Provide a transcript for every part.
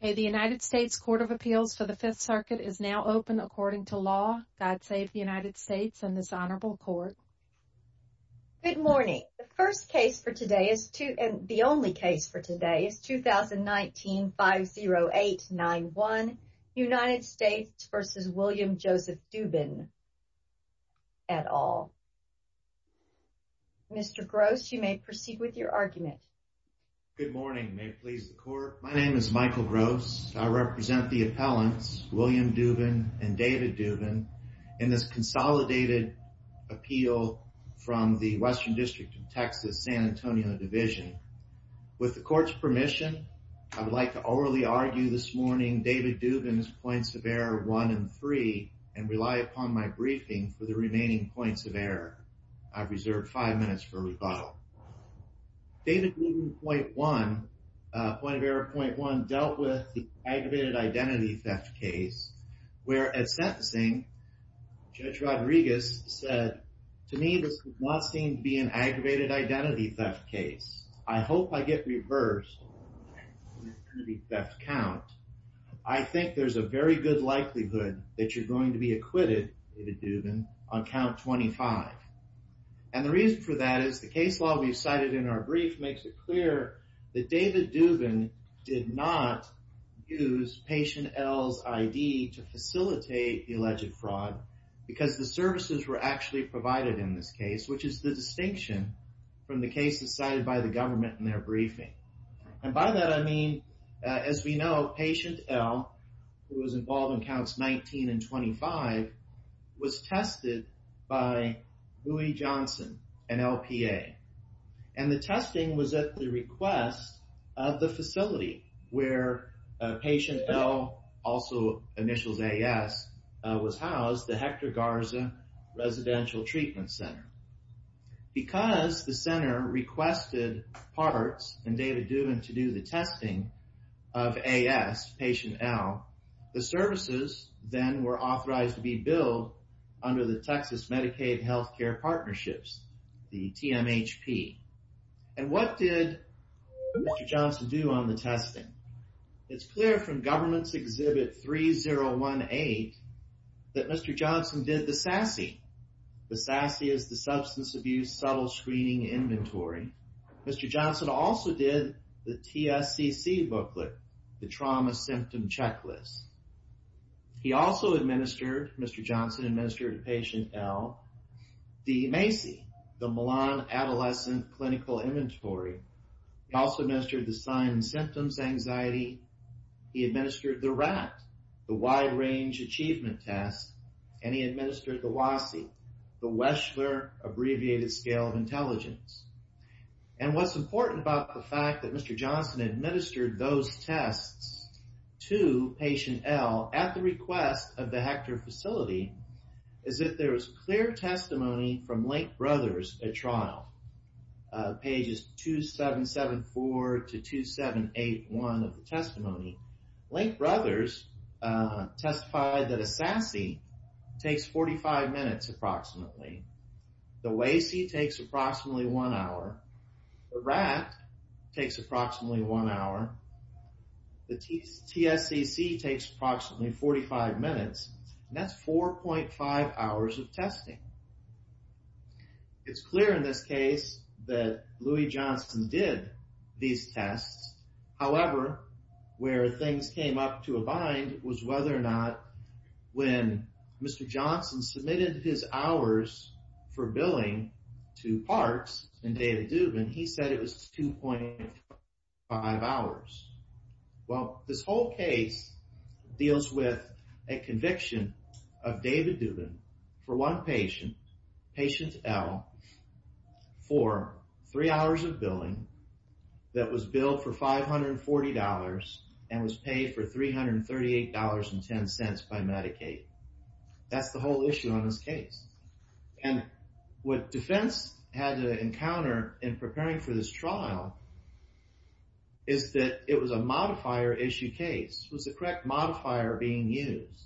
The United States Court of Appeals for the Fifth Circuit is now open according to law. God save the United States and this Honorable Court. Good morning. The first case for today is, and the only case for today, is 2019-50891, United States v. William Joseph Dubin et al. Mr. Gross, you may proceed with your argument. Good morning. May it please the Court. My name is Michael Gross. I represent the appellants, William Dubin and David Dubin, in this consolidated appeal from the Western District of Texas, San Antonio Division. With the Court's permission, I would like to orally argue this morning David Dubin's points of error one and three and rely upon my briefing for the remaining points of error. I've reserved five minutes for rebuttal. David Dubin point one, point of error point one, dealt with the aggravated identity theft case, where at sentencing, Judge Rodriguez said, to me, this does not seem to be an aggravated identity theft case. I hope I get reversed in the identity theft count. I think there's a very good likelihood that you're going to be acquitted, David Dubin, on count 25. And the reason for that is the case law we've cited in our brief makes it clear that David Dubin did not use Patient L's ID to facilitate the alleged fraud because the services were actually provided in this case, which is the distinction from the cases cited by the government in their briefing. And by that, I mean, as we know, Patient L, who was involved in counts 19 and 25, was tested by Louie Johnson, an LPA. And the testing was at the request of the facility where Patient L, also initials AS, was housed, the Hector Garza Residential Treatment Center. Because the center requested parts and David Dubin to do the testing of AS, Patient L, the services then were authorized to be billed under the Texas Medicaid Health Care Partnerships, the TMHP. And what did Mr. Johnson do on the testing? It's clear from Government's Exhibit 3018 that Mr. Johnson did the SASE. The SASE is the Substance Abuse Subtle Screening Inventory. Mr. Johnson also did the TSCC booklet, the Trauma Symptom Checklist. He also administered, Mr. Johnson administered to Patient L, the MACI, the Milan Adolescent Clinical Inventory. He also administered the Sign and Symptoms Anxiety, he administered the RAT, the Wide Range Achievement Test, and he administered the WASI, the Wechsler Abbreviated Scale of And what's important about the fact that Mr. Johnson administered those tests to Patient L at the request of the Hector facility is that there was clear testimony from Link Brothers at trial, pages 2774 to 2781 of the testimony. Link Brothers testified that a SASE takes 45 minutes approximately. The WASI takes approximately one hour, the RAT takes approximately one hour, the TSCC takes approximately 45 minutes, and that's 4.5 hours of testing. It's clear in this case that Louis Johnson did these tests, however, where things came up to a bind was whether or not when Mr. Johnson submitted his hours for billing to Parks and David Dubin, he said it was 2.5 hours. Well, this whole case deals with a conviction of David Dubin for one patient, Patient L, for three hours of billing that was billed for $540 and was paid for $338.10 by Medicaid. That's the whole issue on this case. And what defense had to encounter in preparing for this trial is that it was a modifier issue case, was the correct modifier being used.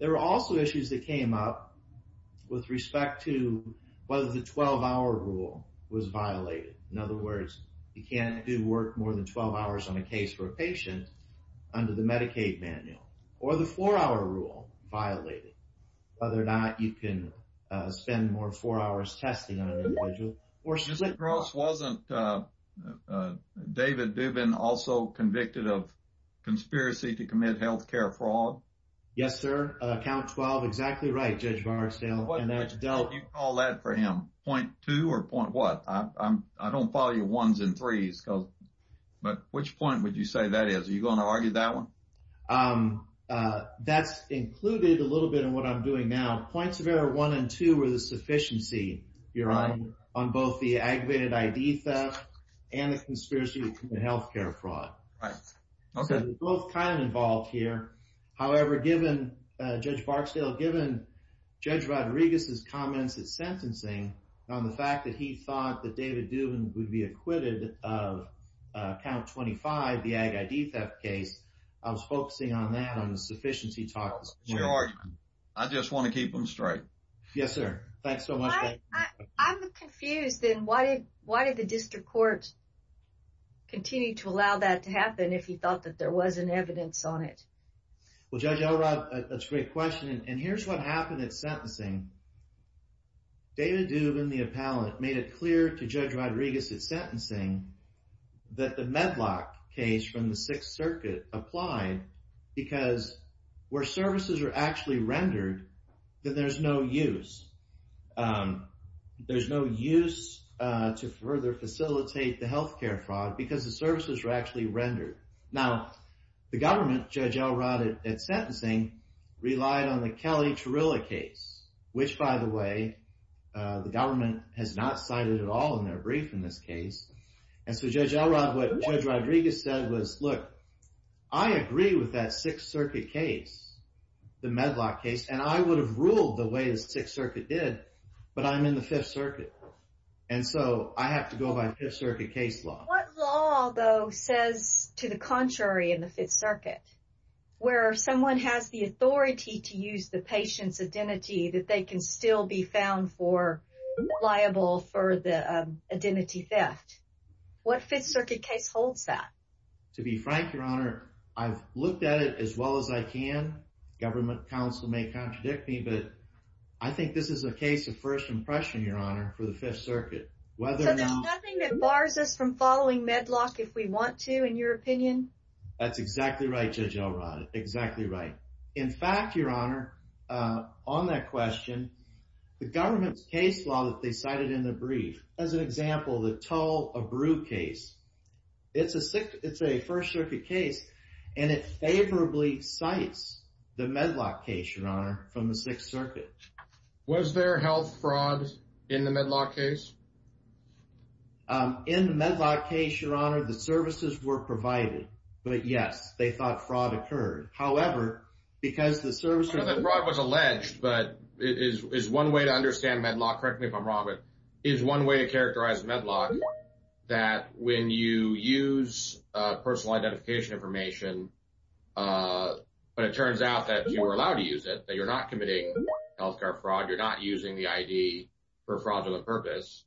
There were also issues that came up with respect to whether the 12-hour rule was violated. In other words, you can't do work more than 12 hours on a case for a patient under the Medicaid manual or the four-hour rule violated, whether or not you can spend more four hours testing on an individual or split. Mr. Gross, wasn't David Dubin also convicted of conspiracy to commit health care fraud? Yes, sir. Count 12. Exactly right, Judge Barsdale. And that's dealt... What would you call that for him? Point two or point what? I don't follow your ones and threes. But which point would you say that is? Are you going to argue that one? That's included a little bit in what I'm doing now. Points of error one and two were the sufficiency on both the aggravated ID theft and the conspiracy to commit health care fraud. Right. Okay. So they're both kind of involved here. However, given Judge Barsdale, given Judge Rodriguez's comments at sentencing on the fact that he thought that David Dubin would be acquitted of count 25, the ag ID theft case, I was focusing on that, on the sufficiency he talked about. Your argument. I just want to keep them straight. Yes, sir. Thanks so much. I'm confused. Why did the district court continue to allow that to happen if he thought that there was an evidence on it? Well, Judge Elrod, that's a great question. And here's what happened at sentencing. David Dubin, the appellant, made it clear to Judge Rodriguez at sentencing that the Medlock case from the Sixth Circuit applied because where services are actually rendered, then there's no use. There's no use to further facilitate the health care fraud because the services are actually rendered. Now, the government, Judge Elrod, at sentencing relied on the Kelly-Tarrillo case, which, by the way, the government has not cited at all in their brief in this case. And so, Judge Elrod, what Judge Rodriguez said was, look, I agree with that Sixth Circuit case, the Medlock case. And I would have ruled the way the Sixth Circuit did, but I'm in the Fifth Circuit. And so, I have to go by Fifth Circuit case law. What law, though, says to the contrary in the Fifth Circuit where someone has the authority to use the patient's identity that they can still be found for liable for the identity theft? What Fifth Circuit case holds that? To be frank, Your Honor, I've looked at it as well as I can. Government counsel may contradict me, but I think this is a case of first impression, Your Honor, for the Fifth Circuit. So there's nothing that bars us from following Medlock if we want to, in your opinion? That's exactly right, Judge Elrod. Exactly right. In fact, Your Honor, on that question, the government's case law that they cited in the brief, as an example, the Tull-Abreu case, it's a First Circuit case, and it favorably cites the Medlock case, Your Honor, from the Sixth Circuit. Was there health fraud in the Medlock case? In the Medlock case, Your Honor, the services were provided, but yes, they thought fraud occurred. However, because the services... I know that fraud was alleged, but is one way to understand Medlock, correct me if I'm wrong, but is one way to characterize Medlock that when you use personal identification information, but it turns out that you were allowed to use it, that you're not committing health care fraud, you're not using the ID for fraudulent purpose,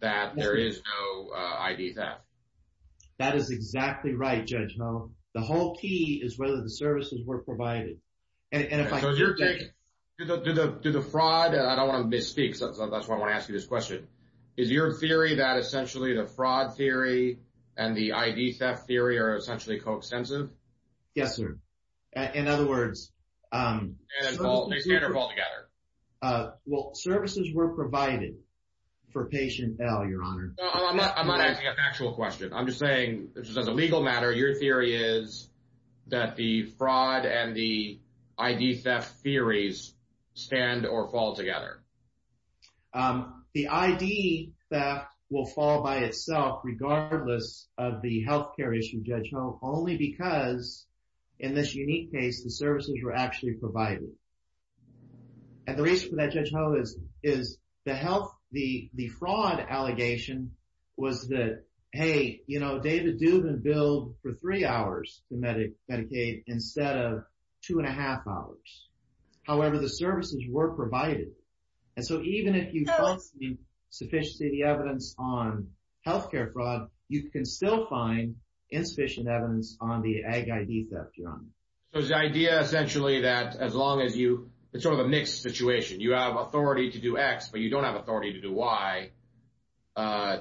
that there is no ID theft? That is exactly right, Judge Hohn. The whole key is whether the services were provided, and if I could take... Do the fraud... I don't want to misspeak, so that's why I want to ask you this question. Is your theory that essentially the fraud theory and the ID theft theory are essentially co-extensive? Yes, sir. In other words... And they stand or fall together? Well, services were provided for patient L, Your Honor. I'm not asking a factual question. I'm just saying, just as a legal matter, your theory is that the fraud and the ID theft theories stand or fall together? The ID theft will fall by itself, regardless of the health care issue, Judge Hohn, only because in this unique case, the services were actually provided. And the reason for that, Judge Hohn, is the fraud allegation was that, hey, David Dubin billed for three hours for Medicaid instead of two and a half hours. However, the services were provided. And so even if you don't see sufficiently the evidence on health care fraud, you can still find insufficient evidence on the ag-ID theft, Your Honor. So it's the idea essentially that as long as you... It's sort of a mixed situation. You have authority to do X, but you don't have authority to do Y.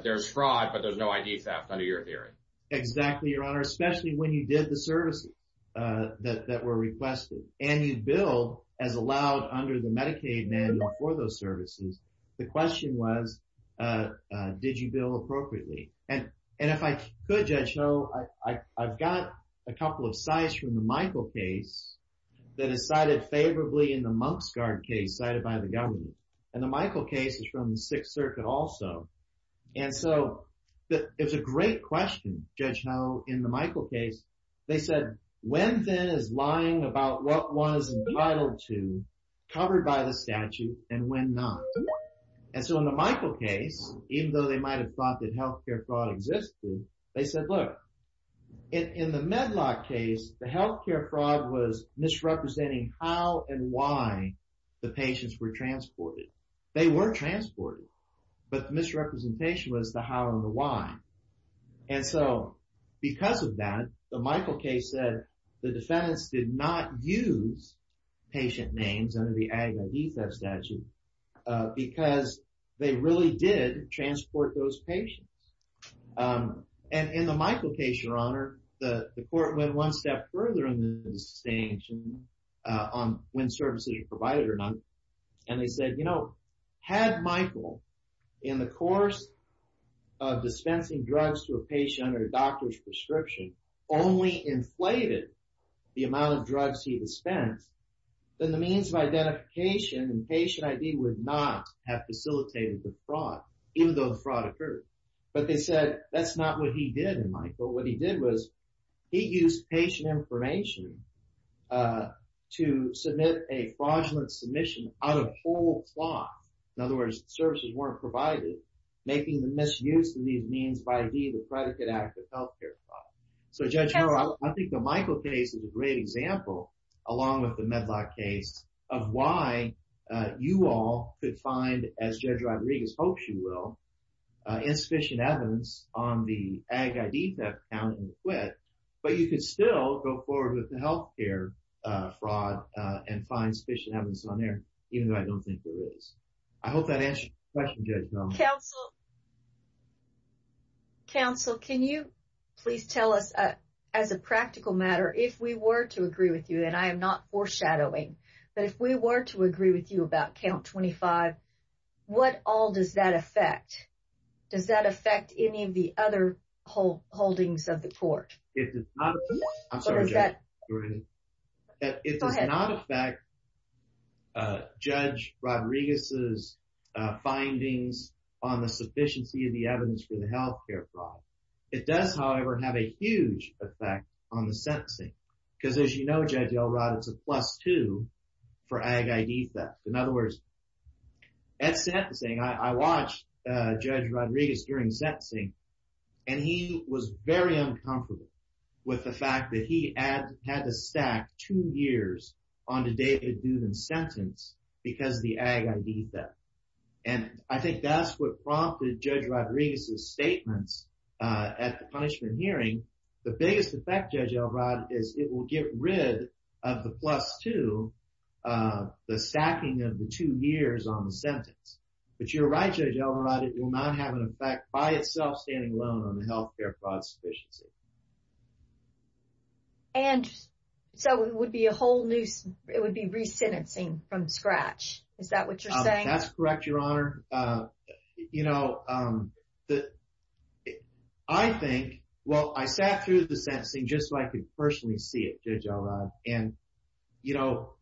There's fraud, but there's no ID theft under your theory. Exactly, Your Honor, especially when you did the services that were requested. And you billed as allowed under the Medicaid manual for those services. The question was, did you bill appropriately? And if I could, Judge Hohn, I've got a couple of sites from the Michael case that is cited favorably in the MonksGuard case cited by the government. And the Michael case is from the Sixth Circuit also. And so it was a great question, Judge Hohn, in the Michael case. They said, when then is lying about what one is entitled to covered by the statute and when not? And so in the Michael case, even though they might have thought that health care fraud existed, they said, look, in the Medlock case, the health care fraud was misrepresenting how and why the patients were transported. They were transported, but the misrepresentation was the how and the why. And so because of that, the Michael case said the defendants did not use patient names under the Ag-ID Theft statute because they really did transport those patients. And in the Michael case, Your Honor, the court went one step further in the distinction on when services were provided or not. And they said, you know, had Michael in the course of dispensing drugs to a patient under a doctor's prescription only inflated the amount of drugs he dispensed, then the means of identification and patient ID would not have facilitated the fraud, even though the fraud occurred. But they said that's not what he did in Michael. What he did was he used patient information to submit a fraudulent submission out of whole cloth. In other words, services weren't provided, making the misuse of these means by ID the predicate act of health care fraud. So, Judge Harrell, I think the Michael case is a great example, along with the Medlock case, of why you all could find, as Judge Rodriguez hopes you will, insufficient evidence on the Ag-ID Theft count and quit, but you could still go forward with the health care fraud and find sufficient evidence on there, even though I don't think there is. I hope that answers your question, Judge Mullen. Counsel, can you please tell us, as a practical matter, if we were to agree with you, and I am not foreshadowing, but if we were to agree with you about count 25, what all does that affect? Does that affect any of the other holdings of the court? It does not affect Judge Rodriguez's findings on the sufficiency of the evidence for the health care fraud. It does, however, have a huge effect on the sentencing, because as you know, Judge Elrod, it's a plus two for Ag-ID Theft. In other words, at sentencing, I watched Judge Rodriguez during sentencing, and he was very uncomfortable with the fact that he had to stack two years on the David Duden sentence because of the Ag-ID Theft. And I think that's what prompted Judge Rodriguez's statements at the punishment hearing. The biggest effect, Judge Elrod, is it will get rid of the plus two, the stacking of the two years on the sentence. But you're right, Judge Elrod, it will not have an effect by itself, standing alone on the health care fraud sufficiency. And so it would be a whole new, it would be re-sentencing from scratch, is that what you're saying? That's correct, Your Honor. You know, I think, well, I sat through the sentencing just so I could personally see it, Judge Elrod. And, you know,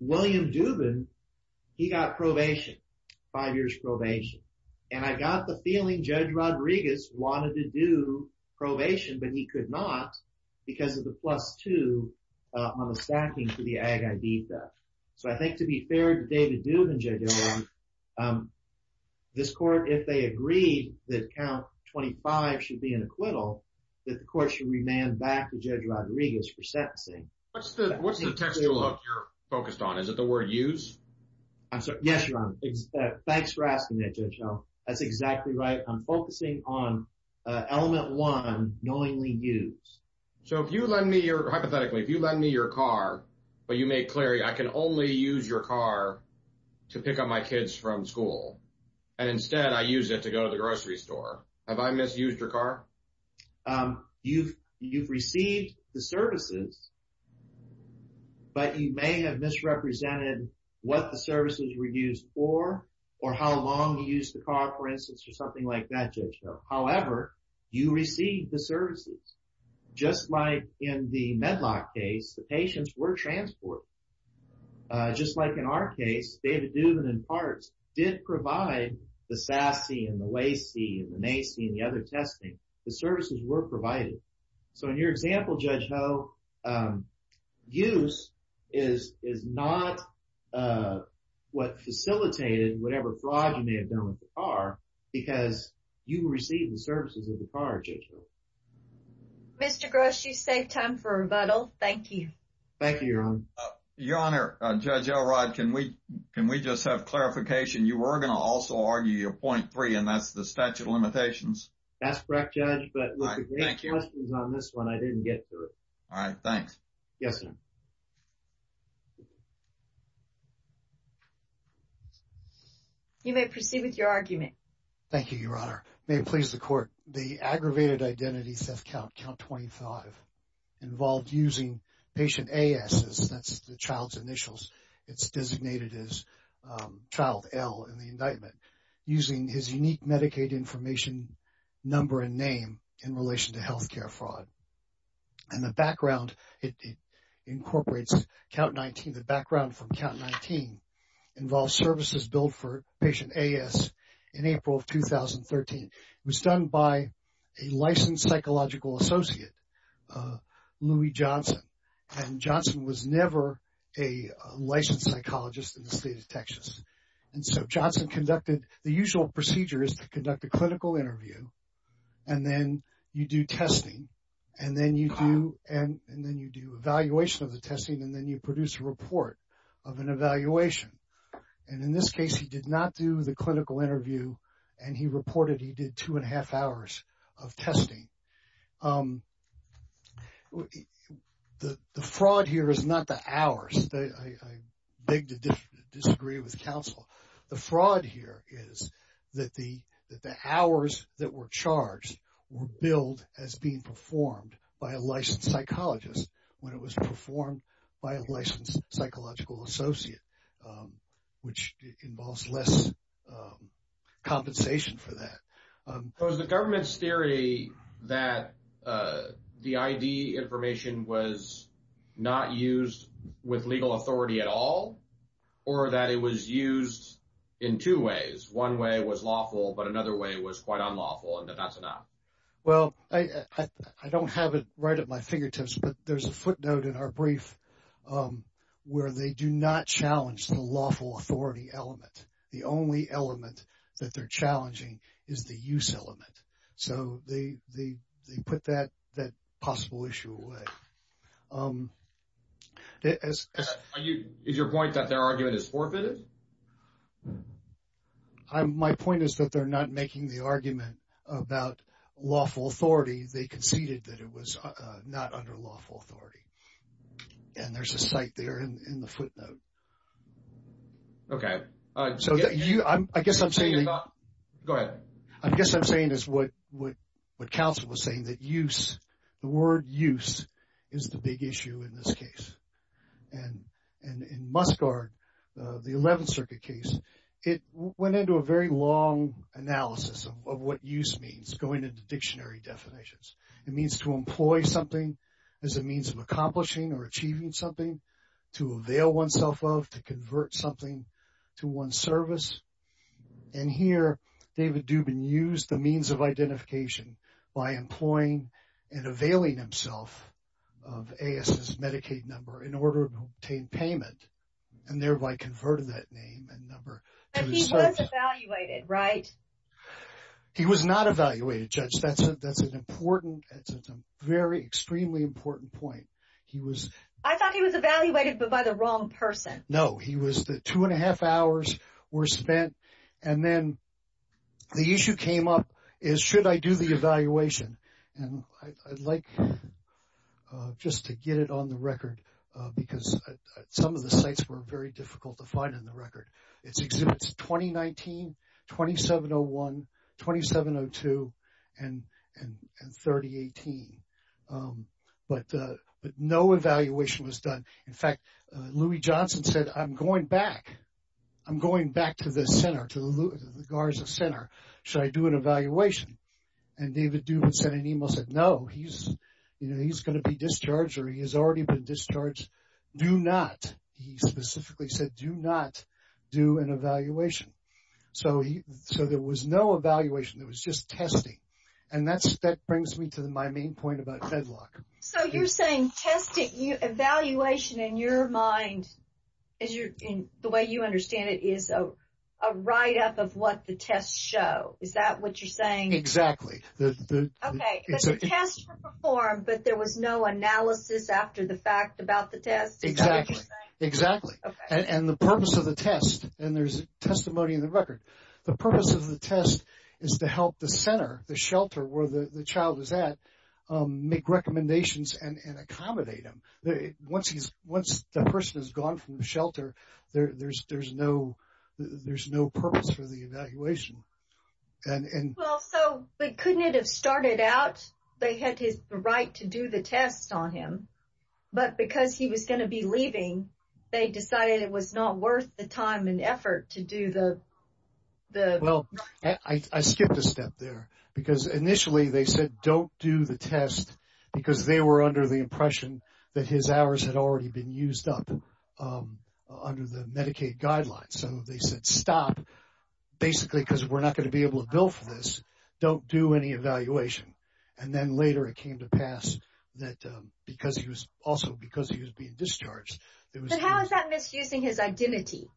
William Dubin, he got probation, five years probation. And I got the feeling Judge Rodriguez wanted to do probation, but he could not because of the plus two on the stacking for the Ag-ID Theft. So I think to be fair to David Dubin, Judge Elrod, this court, if they agreed that count 25 should be an acquittal, that the court should remand back to Judge Rodriguez for sentencing. What's the textual hook you're focused on? Is it the word use? Yes, Your Honor. Thanks for asking that, Judge Elrod. That's exactly right. I'm focusing on element one, knowingly use. So if you lend me your, hypothetically, if you lend me your car, but you make clear, I can only use your car to pick up my kids from school and instead I use it to go to the grocery store. Have I misused your car? You've received the services, but you may have misrepresented what the services were used for or how long you used the car, for instance, or something like that, Judge Elrod. However, you received the services, just like in the Medlock case, the patients were transported. Just like in our case, David Dubin, in part, did provide the SASE and the LACE and the MACE and the other testing. The services were provided. So in your example, Judge Ho, use is not what facilitated whatever fraud you may have done with the car, because you received the services of the car, Judge Ho. Mr. Gross, you saved time for rebuttal. Thank you. Thank you, Your Honor. Your Honor, Judge Elrod, can we just have clarification? You were going to also argue your point three, and that's the statute of limitations. That's correct, Judge, but with the questions on this one, I didn't get through it. All right. Thanks. Yes, sir. You may proceed with your argument. Thank you, Your Honor. May it please the Court. The aggravated identity theft count, count 25, involved using patient AS, that's the child's initials, it's designated as child L in the indictment, using his unique Medicaid information number and name in relation to health care fraud. And the background, it incorporates count 19, the background from count 19 involves services billed for patient AS in April of 2013. It was done by a licensed psychological associate, Louie Johnson, and Johnson was never a licensed psychologist in the state of Texas. And so Johnson conducted, the usual procedure is to conduct a clinical interview and then you do testing and then you do evaluation of the testing and then you produce a report of an evaluation. And in this case, he did not do the clinical interview and he reported he did two and a half hours of testing. The fraud here is not the hours, I beg to disagree with counsel. The fraud here is that the, that the hours that were charged were billed as being performed by a licensed psychologist when it was performed by a licensed psychological associate, which involves less compensation for that. Was the government's theory that the ID information was not used with legal authority at all or that it was used in two ways? One way was lawful, but another way was quite unlawful and that that's enough. Well, I don't have it right at my fingertips, but there's a footnote in our brief where they do not challenge the lawful authority element. The only element that they're challenging is the use element. So they put that that possible issue away. Is your point that their argument is forfeited? My point is that they're not making the argument about lawful authority. They conceded that it was not under lawful authority. And there's a site there in the footnote. OK, so I guess I'm saying, go ahead, I guess I'm saying is what what what counsel was saying that use the word use is the big issue in this case and in Musgard, the 11th Circuit case, it went into a very long analysis of what use means going into dictionary definitions. It means to employ something as a means of accomplishing or achieving something to avail oneself of to convert something to one service. And here, David Dubin used the means of identification by employing and availing himself of A.S.'s Medicaid number in order to obtain payment and thereby converted that name and number. He was evaluated, right? He was not evaluated, Judge. That's that's an important, very extremely important point. He was. I thought he was evaluated by the wrong person. No, he was the two and a half hours were spent and then the issue came up is, should I do the evaluation? And I'd like just to get it on the record because some of the sites were very difficult to find in the record. It's exhibits 2019, 2701, 2702 and and 3018. But but no evaluation was done. In fact, Louis Johnson said, I'm going back. I'm going back to the center to the center. Should I do an evaluation? And David Dubin sent an email, said, no, he's you know, he's going to be discharged or he has already been discharged. Do not. He specifically said, do not do an evaluation. So so there was no evaluation. It was just testing. And that's that brings me to my main point about Fedlock. So you're saying testing evaluation in your mind, as you're in the way you understand it is a write up of what the tests show. Is that what you're saying? Exactly. The test performed, but there was no analysis after the fact about the test. Exactly. Exactly. And the purpose of the test and there's testimony in the record. The purpose of the test is to help the center, the shelter where the child is at make recommendations and accommodate them. Once he's once the person has gone from the shelter, there's there's no there's no purpose for the evaluation. And well, so they couldn't have started out. They had his right to do the test on him. But because he was going to be leaving, they decided it was not worth the time and effort to do the the. Well, I skipped a step there because initially they said, don't do the test because they were under the impression that his hours had already been used up under the Medicaid guidelines. So they said, stop, basically, because we're not going to be able to bill for this. Don't do any evaluation. And then later it came to pass that because he was also because he was being discharged. How is that misusing his identity?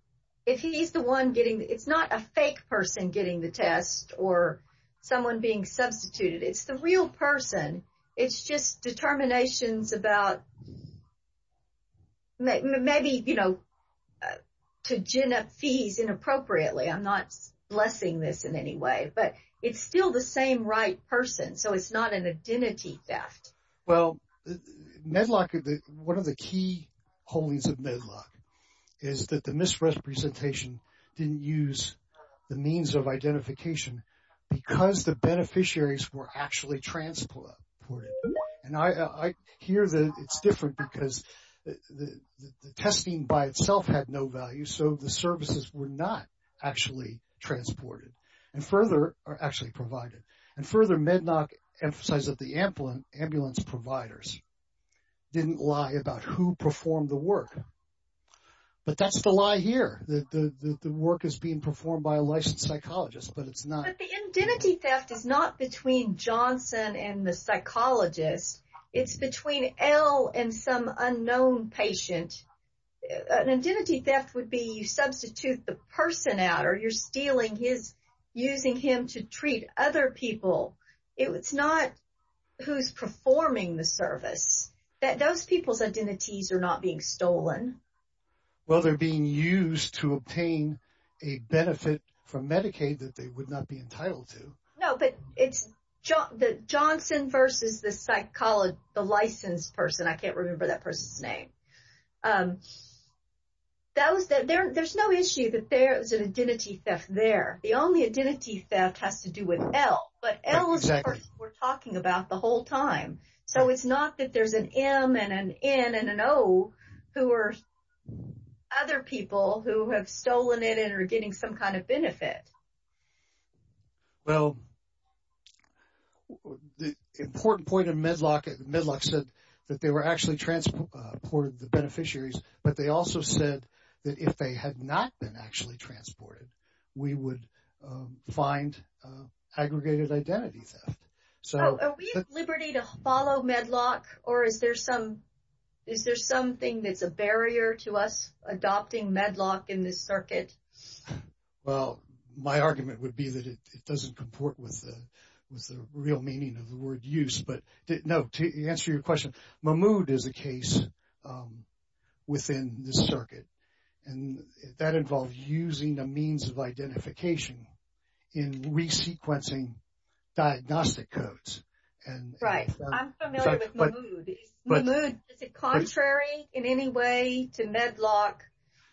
If he's the one getting it's not a fake person getting the test or someone being substituted, it's the real person. It's just determinations about. Maybe, you know, to gin up fees inappropriately. I'm not blessing this in any way, but it's still the same right person. So it's not an identity theft. Well, Medlock, one of the key holdings of Medlock is that the misrepresentation didn't use the means of identification because the beneficiaries were actually transported. And I hear that it's different because the testing by itself had no value. So the services were not actually transported and further are actually provided and further Medlock emphasize that the ambulance providers didn't lie about who performed the work. But that's the lie here, that the work is being performed by a licensed psychologist, but it's not the identity theft is not between Johnson and the psychologist. It's between L and some unknown patient. An identity theft would be you substitute the person out or you're stealing his using him to treat other people. It's not who's performing the service that those people's identities are not being stolen. Well, they're being used to obtain a benefit from Medicaid that they would not be entitled to. No, but it's the Johnson versus the psychologist, the licensed person. I can't remember that person's name. Um. That was that there's no issue that there is an identity theft there. The only identity theft has to do with L, but L is what we're talking about the whole time. So it's not that there's an M and an N and an O who are other people who have stolen it and are getting some kind of benefit. Well, the important point of Medlock, Medlock said that they were actually transported, the beneficiaries, but they also said that if they had not been actually transported, we would find aggregated identity theft. So we have liberty to follow Medlock or is there some is there something that's a barrier to us adopting Medlock in this circuit? Well, my argument would be that it doesn't comport with the real meaning of the word use. But no, to answer your question, Mahmoud is a case within the circuit and that involves using a means of identification in re-sequencing diagnostic codes. And right. I'm familiar with Mahmoud, but Mahmoud is it contrary in any way to Medlock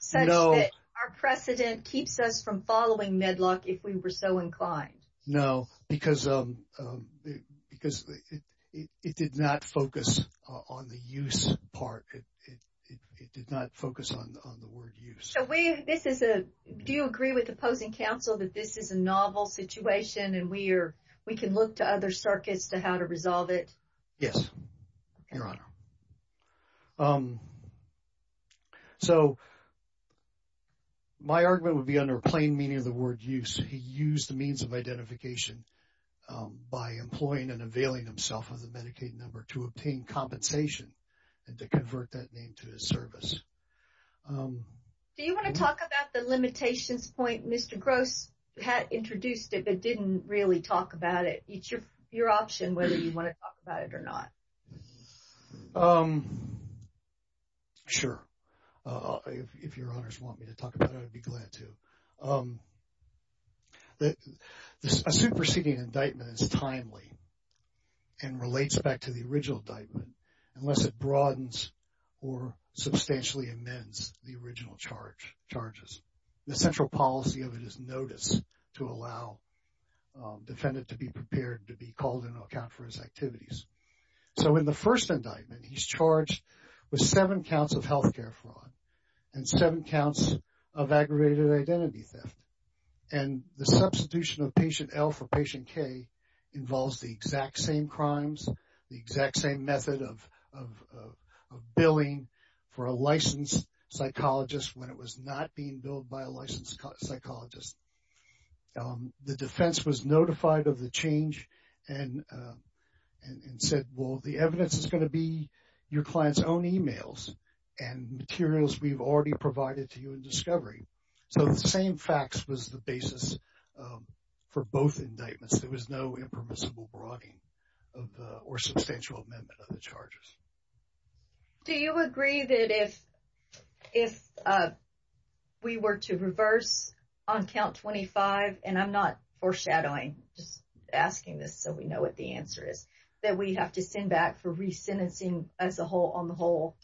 such that our precedent keeps us from following Medlock if we were so inclined? No, because because it did not focus on the use part, it did not focus on the word use. So we this is a do you agree with opposing counsel that this is a novel situation and we are we can look to other circuits to how to resolve it? Yes, Your Honor. So. My argument would be under plain meaning of the word use, he used the means of identification by employing and availing himself of the Medicaid number to obtain compensation and to convert that name to his service. Do you want to talk about the limitations point? Mr. Gross had introduced it, but didn't really talk about it. It's your option whether you want to talk about it or not. Sure, if Your Honors want me to talk about it, I'd be glad to. A superseding indictment is timely and relates back to the original indictment unless it broadens or substantially amends the original charge charges. The central policy of it is notice to allow defendant to be prepared to be called in to account for his activities. So in the first indictment, he's charged with seven counts of health care fraud and seven counts of aggravated identity theft. And the substitution of patient L for patient K involves the exact same crimes, the exact same method of billing for a licensed psychologist when it was not being billed by a licensed psychologist. The defense was notified of the change and said, well, the evidence is going to be your client's own emails and materials we've already provided to you in discovery. So the same facts was the basis for both indictments. There was no impermissible broadening or substantial amendment of the charges. Do you agree that if we were to reverse on count 25, and I'm not foreshadowing, just asking this so we know what the answer is, that we have to send back for re-sentencing as a whole on the whole?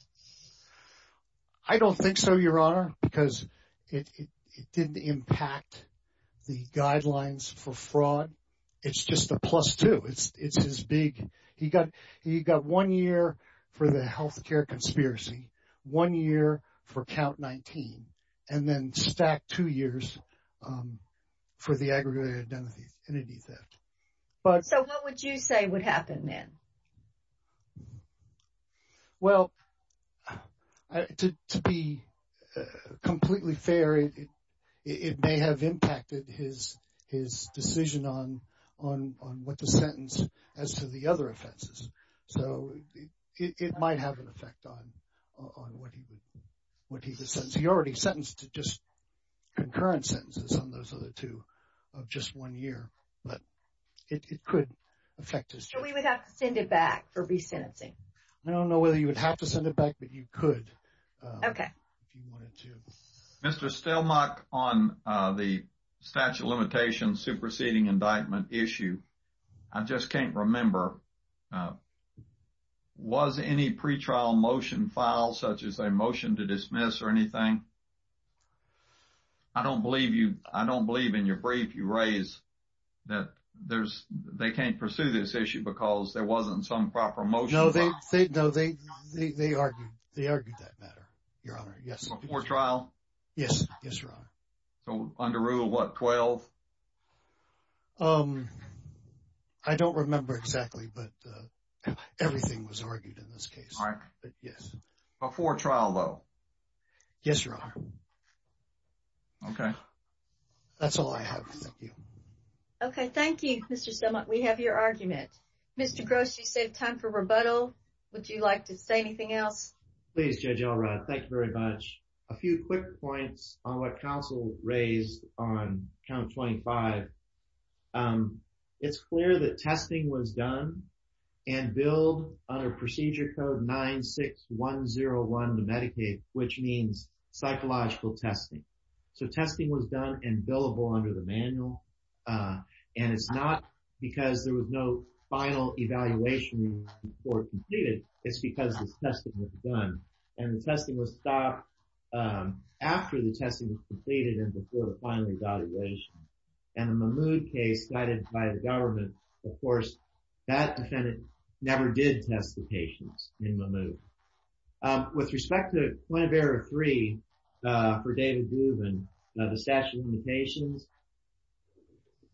I don't think so, Your Honor, because it didn't impact the guidelines for fraud. It's just a plus two. It's his big, he got one year for the health care conspiracy, one year for count 19, and then stacked two years for the aggravated identity theft. So what would you say would happen then? Well, to be completely fair, it may have impacted his decision on what the sentence as to the other offenses. So it might have an effect on what he would, what he would sentence. He already sentenced to just concurrent sentences on those other two of just one year, but it could affect his sentence. So we would have to send it back for re-sentencing? I don't know whether you would have to send it back, but you could. OK. Mr. Stelmach, on the statute of limitations, superseding indictment issue, I just can't remember. Was any pretrial motion filed such as a motion to dismiss or anything? I don't believe you, I don't believe in your brief you raise that there's they can't pursue this issue because there wasn't some proper motion. No, they know they they argued they argued that matter. Your Honor. Yes. Before trial? Yes. Yes, Your Honor. So under rule, what, 12? I don't remember exactly, but everything was argued in this case. All right. Yes. Before trial, though. Yes, Your Honor. OK. That's all I have. OK, thank you, Mr. Stelmach. We have your argument. Mr. Gross, you save time for rebuttal. Would you like to say anything else? Please, Judge Elrod. Thank you very much. A few quick points on what counsel raised on count 25. It's clear that testing was done and billed under procedure code 96101 to Medicaid, which means psychological testing. So testing was done and billable under the manual. And it's not because there was no final evaluation before it was completed. It's because this testing was done and the testing was stopped after the testing was completed and before the final evaluation. And the Mahmoud case cited by the government, of course, that defendant never did test the patients in Mahmoud. With respect to point of error three for David Dubin, the statute of limitations,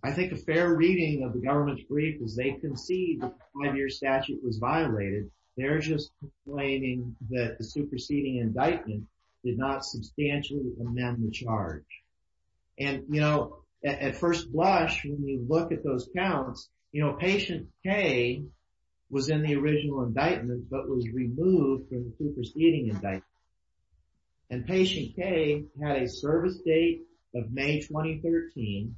I think a fair reading of the government's brief is they concede the five-year statute was violated. They're just claiming that the superseding indictment did not substantially amend the charge. And, you know, at first blush, when you look at those counts, you know, patient K was in the original indictment, but was removed from the superseding indictment. And patient K had a service date of May 2013,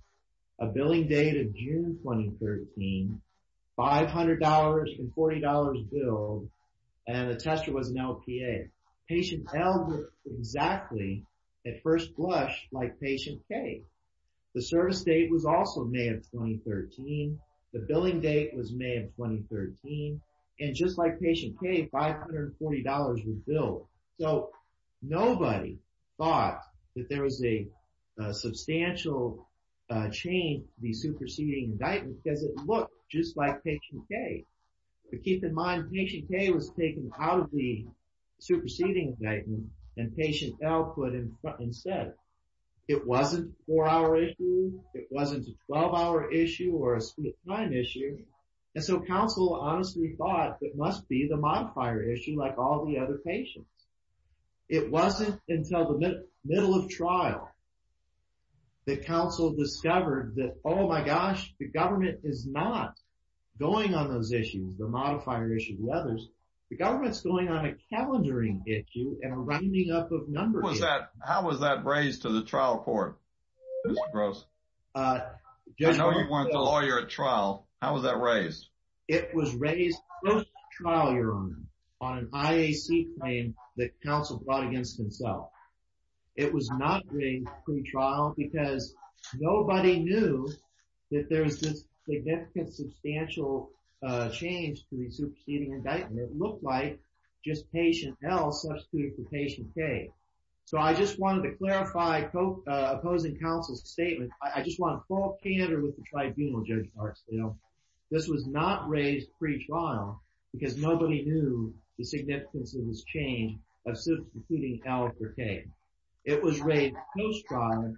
a billing date of June 2013, five hundred dollars and forty dollars billed, and the tester was an LPA. Patient L was exactly at first blush like patient K. The service date was also May of 2013. The billing date was May of 2013. And just like patient K, five hundred and forty dollars was billed. So nobody thought that there was a substantial change in the superseding indictment because it looked just like patient K. But keep in mind, patient K was taken out of the superseding indictment and patient L put in front and said it wasn't a four-hour issue, it wasn't a 12-hour issue or a speed of time issue. And so counsel honestly thought it must be the modifier issue like all the other patients. It wasn't until the middle of trial that counsel discovered that, oh, my gosh, the government is not going on those issues, the modifier issue, the others. The government's going on a calendaring issue and a ramming up of numbers. How was that raised to the trial court? This is gross. I know you wanted a lawyer at trial. How was that raised? It was raised close to trial, your honor, on an IAC claim that counsel brought against himself. It was not a pre-trial because nobody knew that there was this significant substantial change to the superseding indictment. It looked like just patient L substituted for patient K. So I just wanted to clarify opposing counsel's statement. I just want to fall candor with the tribunal, Judge Barksdale. This was not raised pre-trial because nobody knew the significance of this change of substituting L for K. It was raised post-trial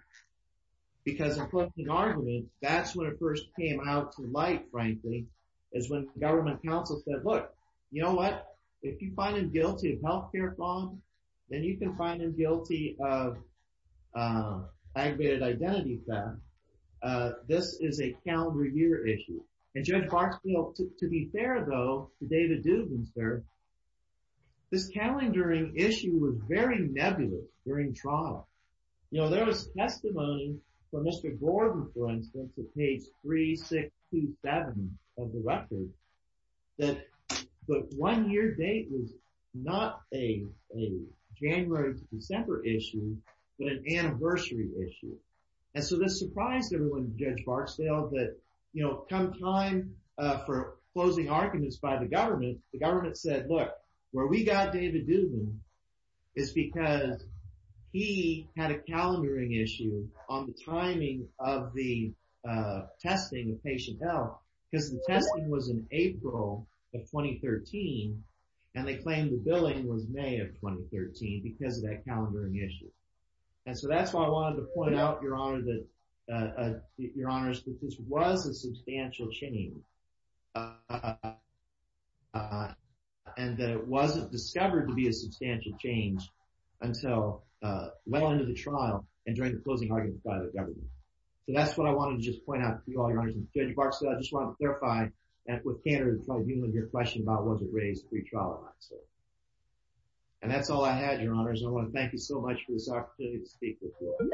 because, according to the argument, that's when it first came out to light, frankly, is when government counsel said, look, you know what, if you can find him guilty of aggravated identity theft, this is a calendar year issue. And Judge Barksdale, to be fair, though, to David Dubinster, this calendaring issue was very nebulous during trial. You know, there was testimony from Mr. Dubin, not a January to December issue, but an anniversary issue. And so this surprised everyone, Judge Barksdale, that, you know, come time for closing arguments by the government, the government said, look, where we got David Dubin is because he had a calendaring issue on the timing of the testing of patient L, because the testing was in April of 2013 and they claimed the billing was May of 2013 because of that calendaring issue. And so that's why I wanted to point out, Your Honor, that this was a substantial change and that it wasn't discovered to be a substantial change until well into the trial and during the closing argument by the government. So that's what I wanted to just point out to you all, Your Honor, and Judge Barksdale, I would clarify what you and your question about was it raised at the trial, I'd say. And that's all I had, Your Honor, I want to thank you so much for this opportunity to speak with you all.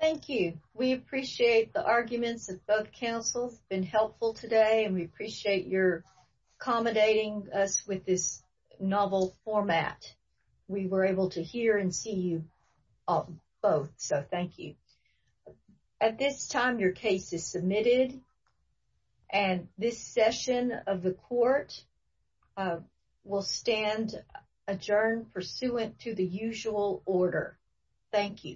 Thank you, we appreciate the arguments of both counsels, it's been helpful today and we appreciate your accommodating us with this novel format. We were able to hear and see you both, so thank you. At this time, your case is submitted and this session of the court will stand adjourned pursuant to the usual order. Thank you.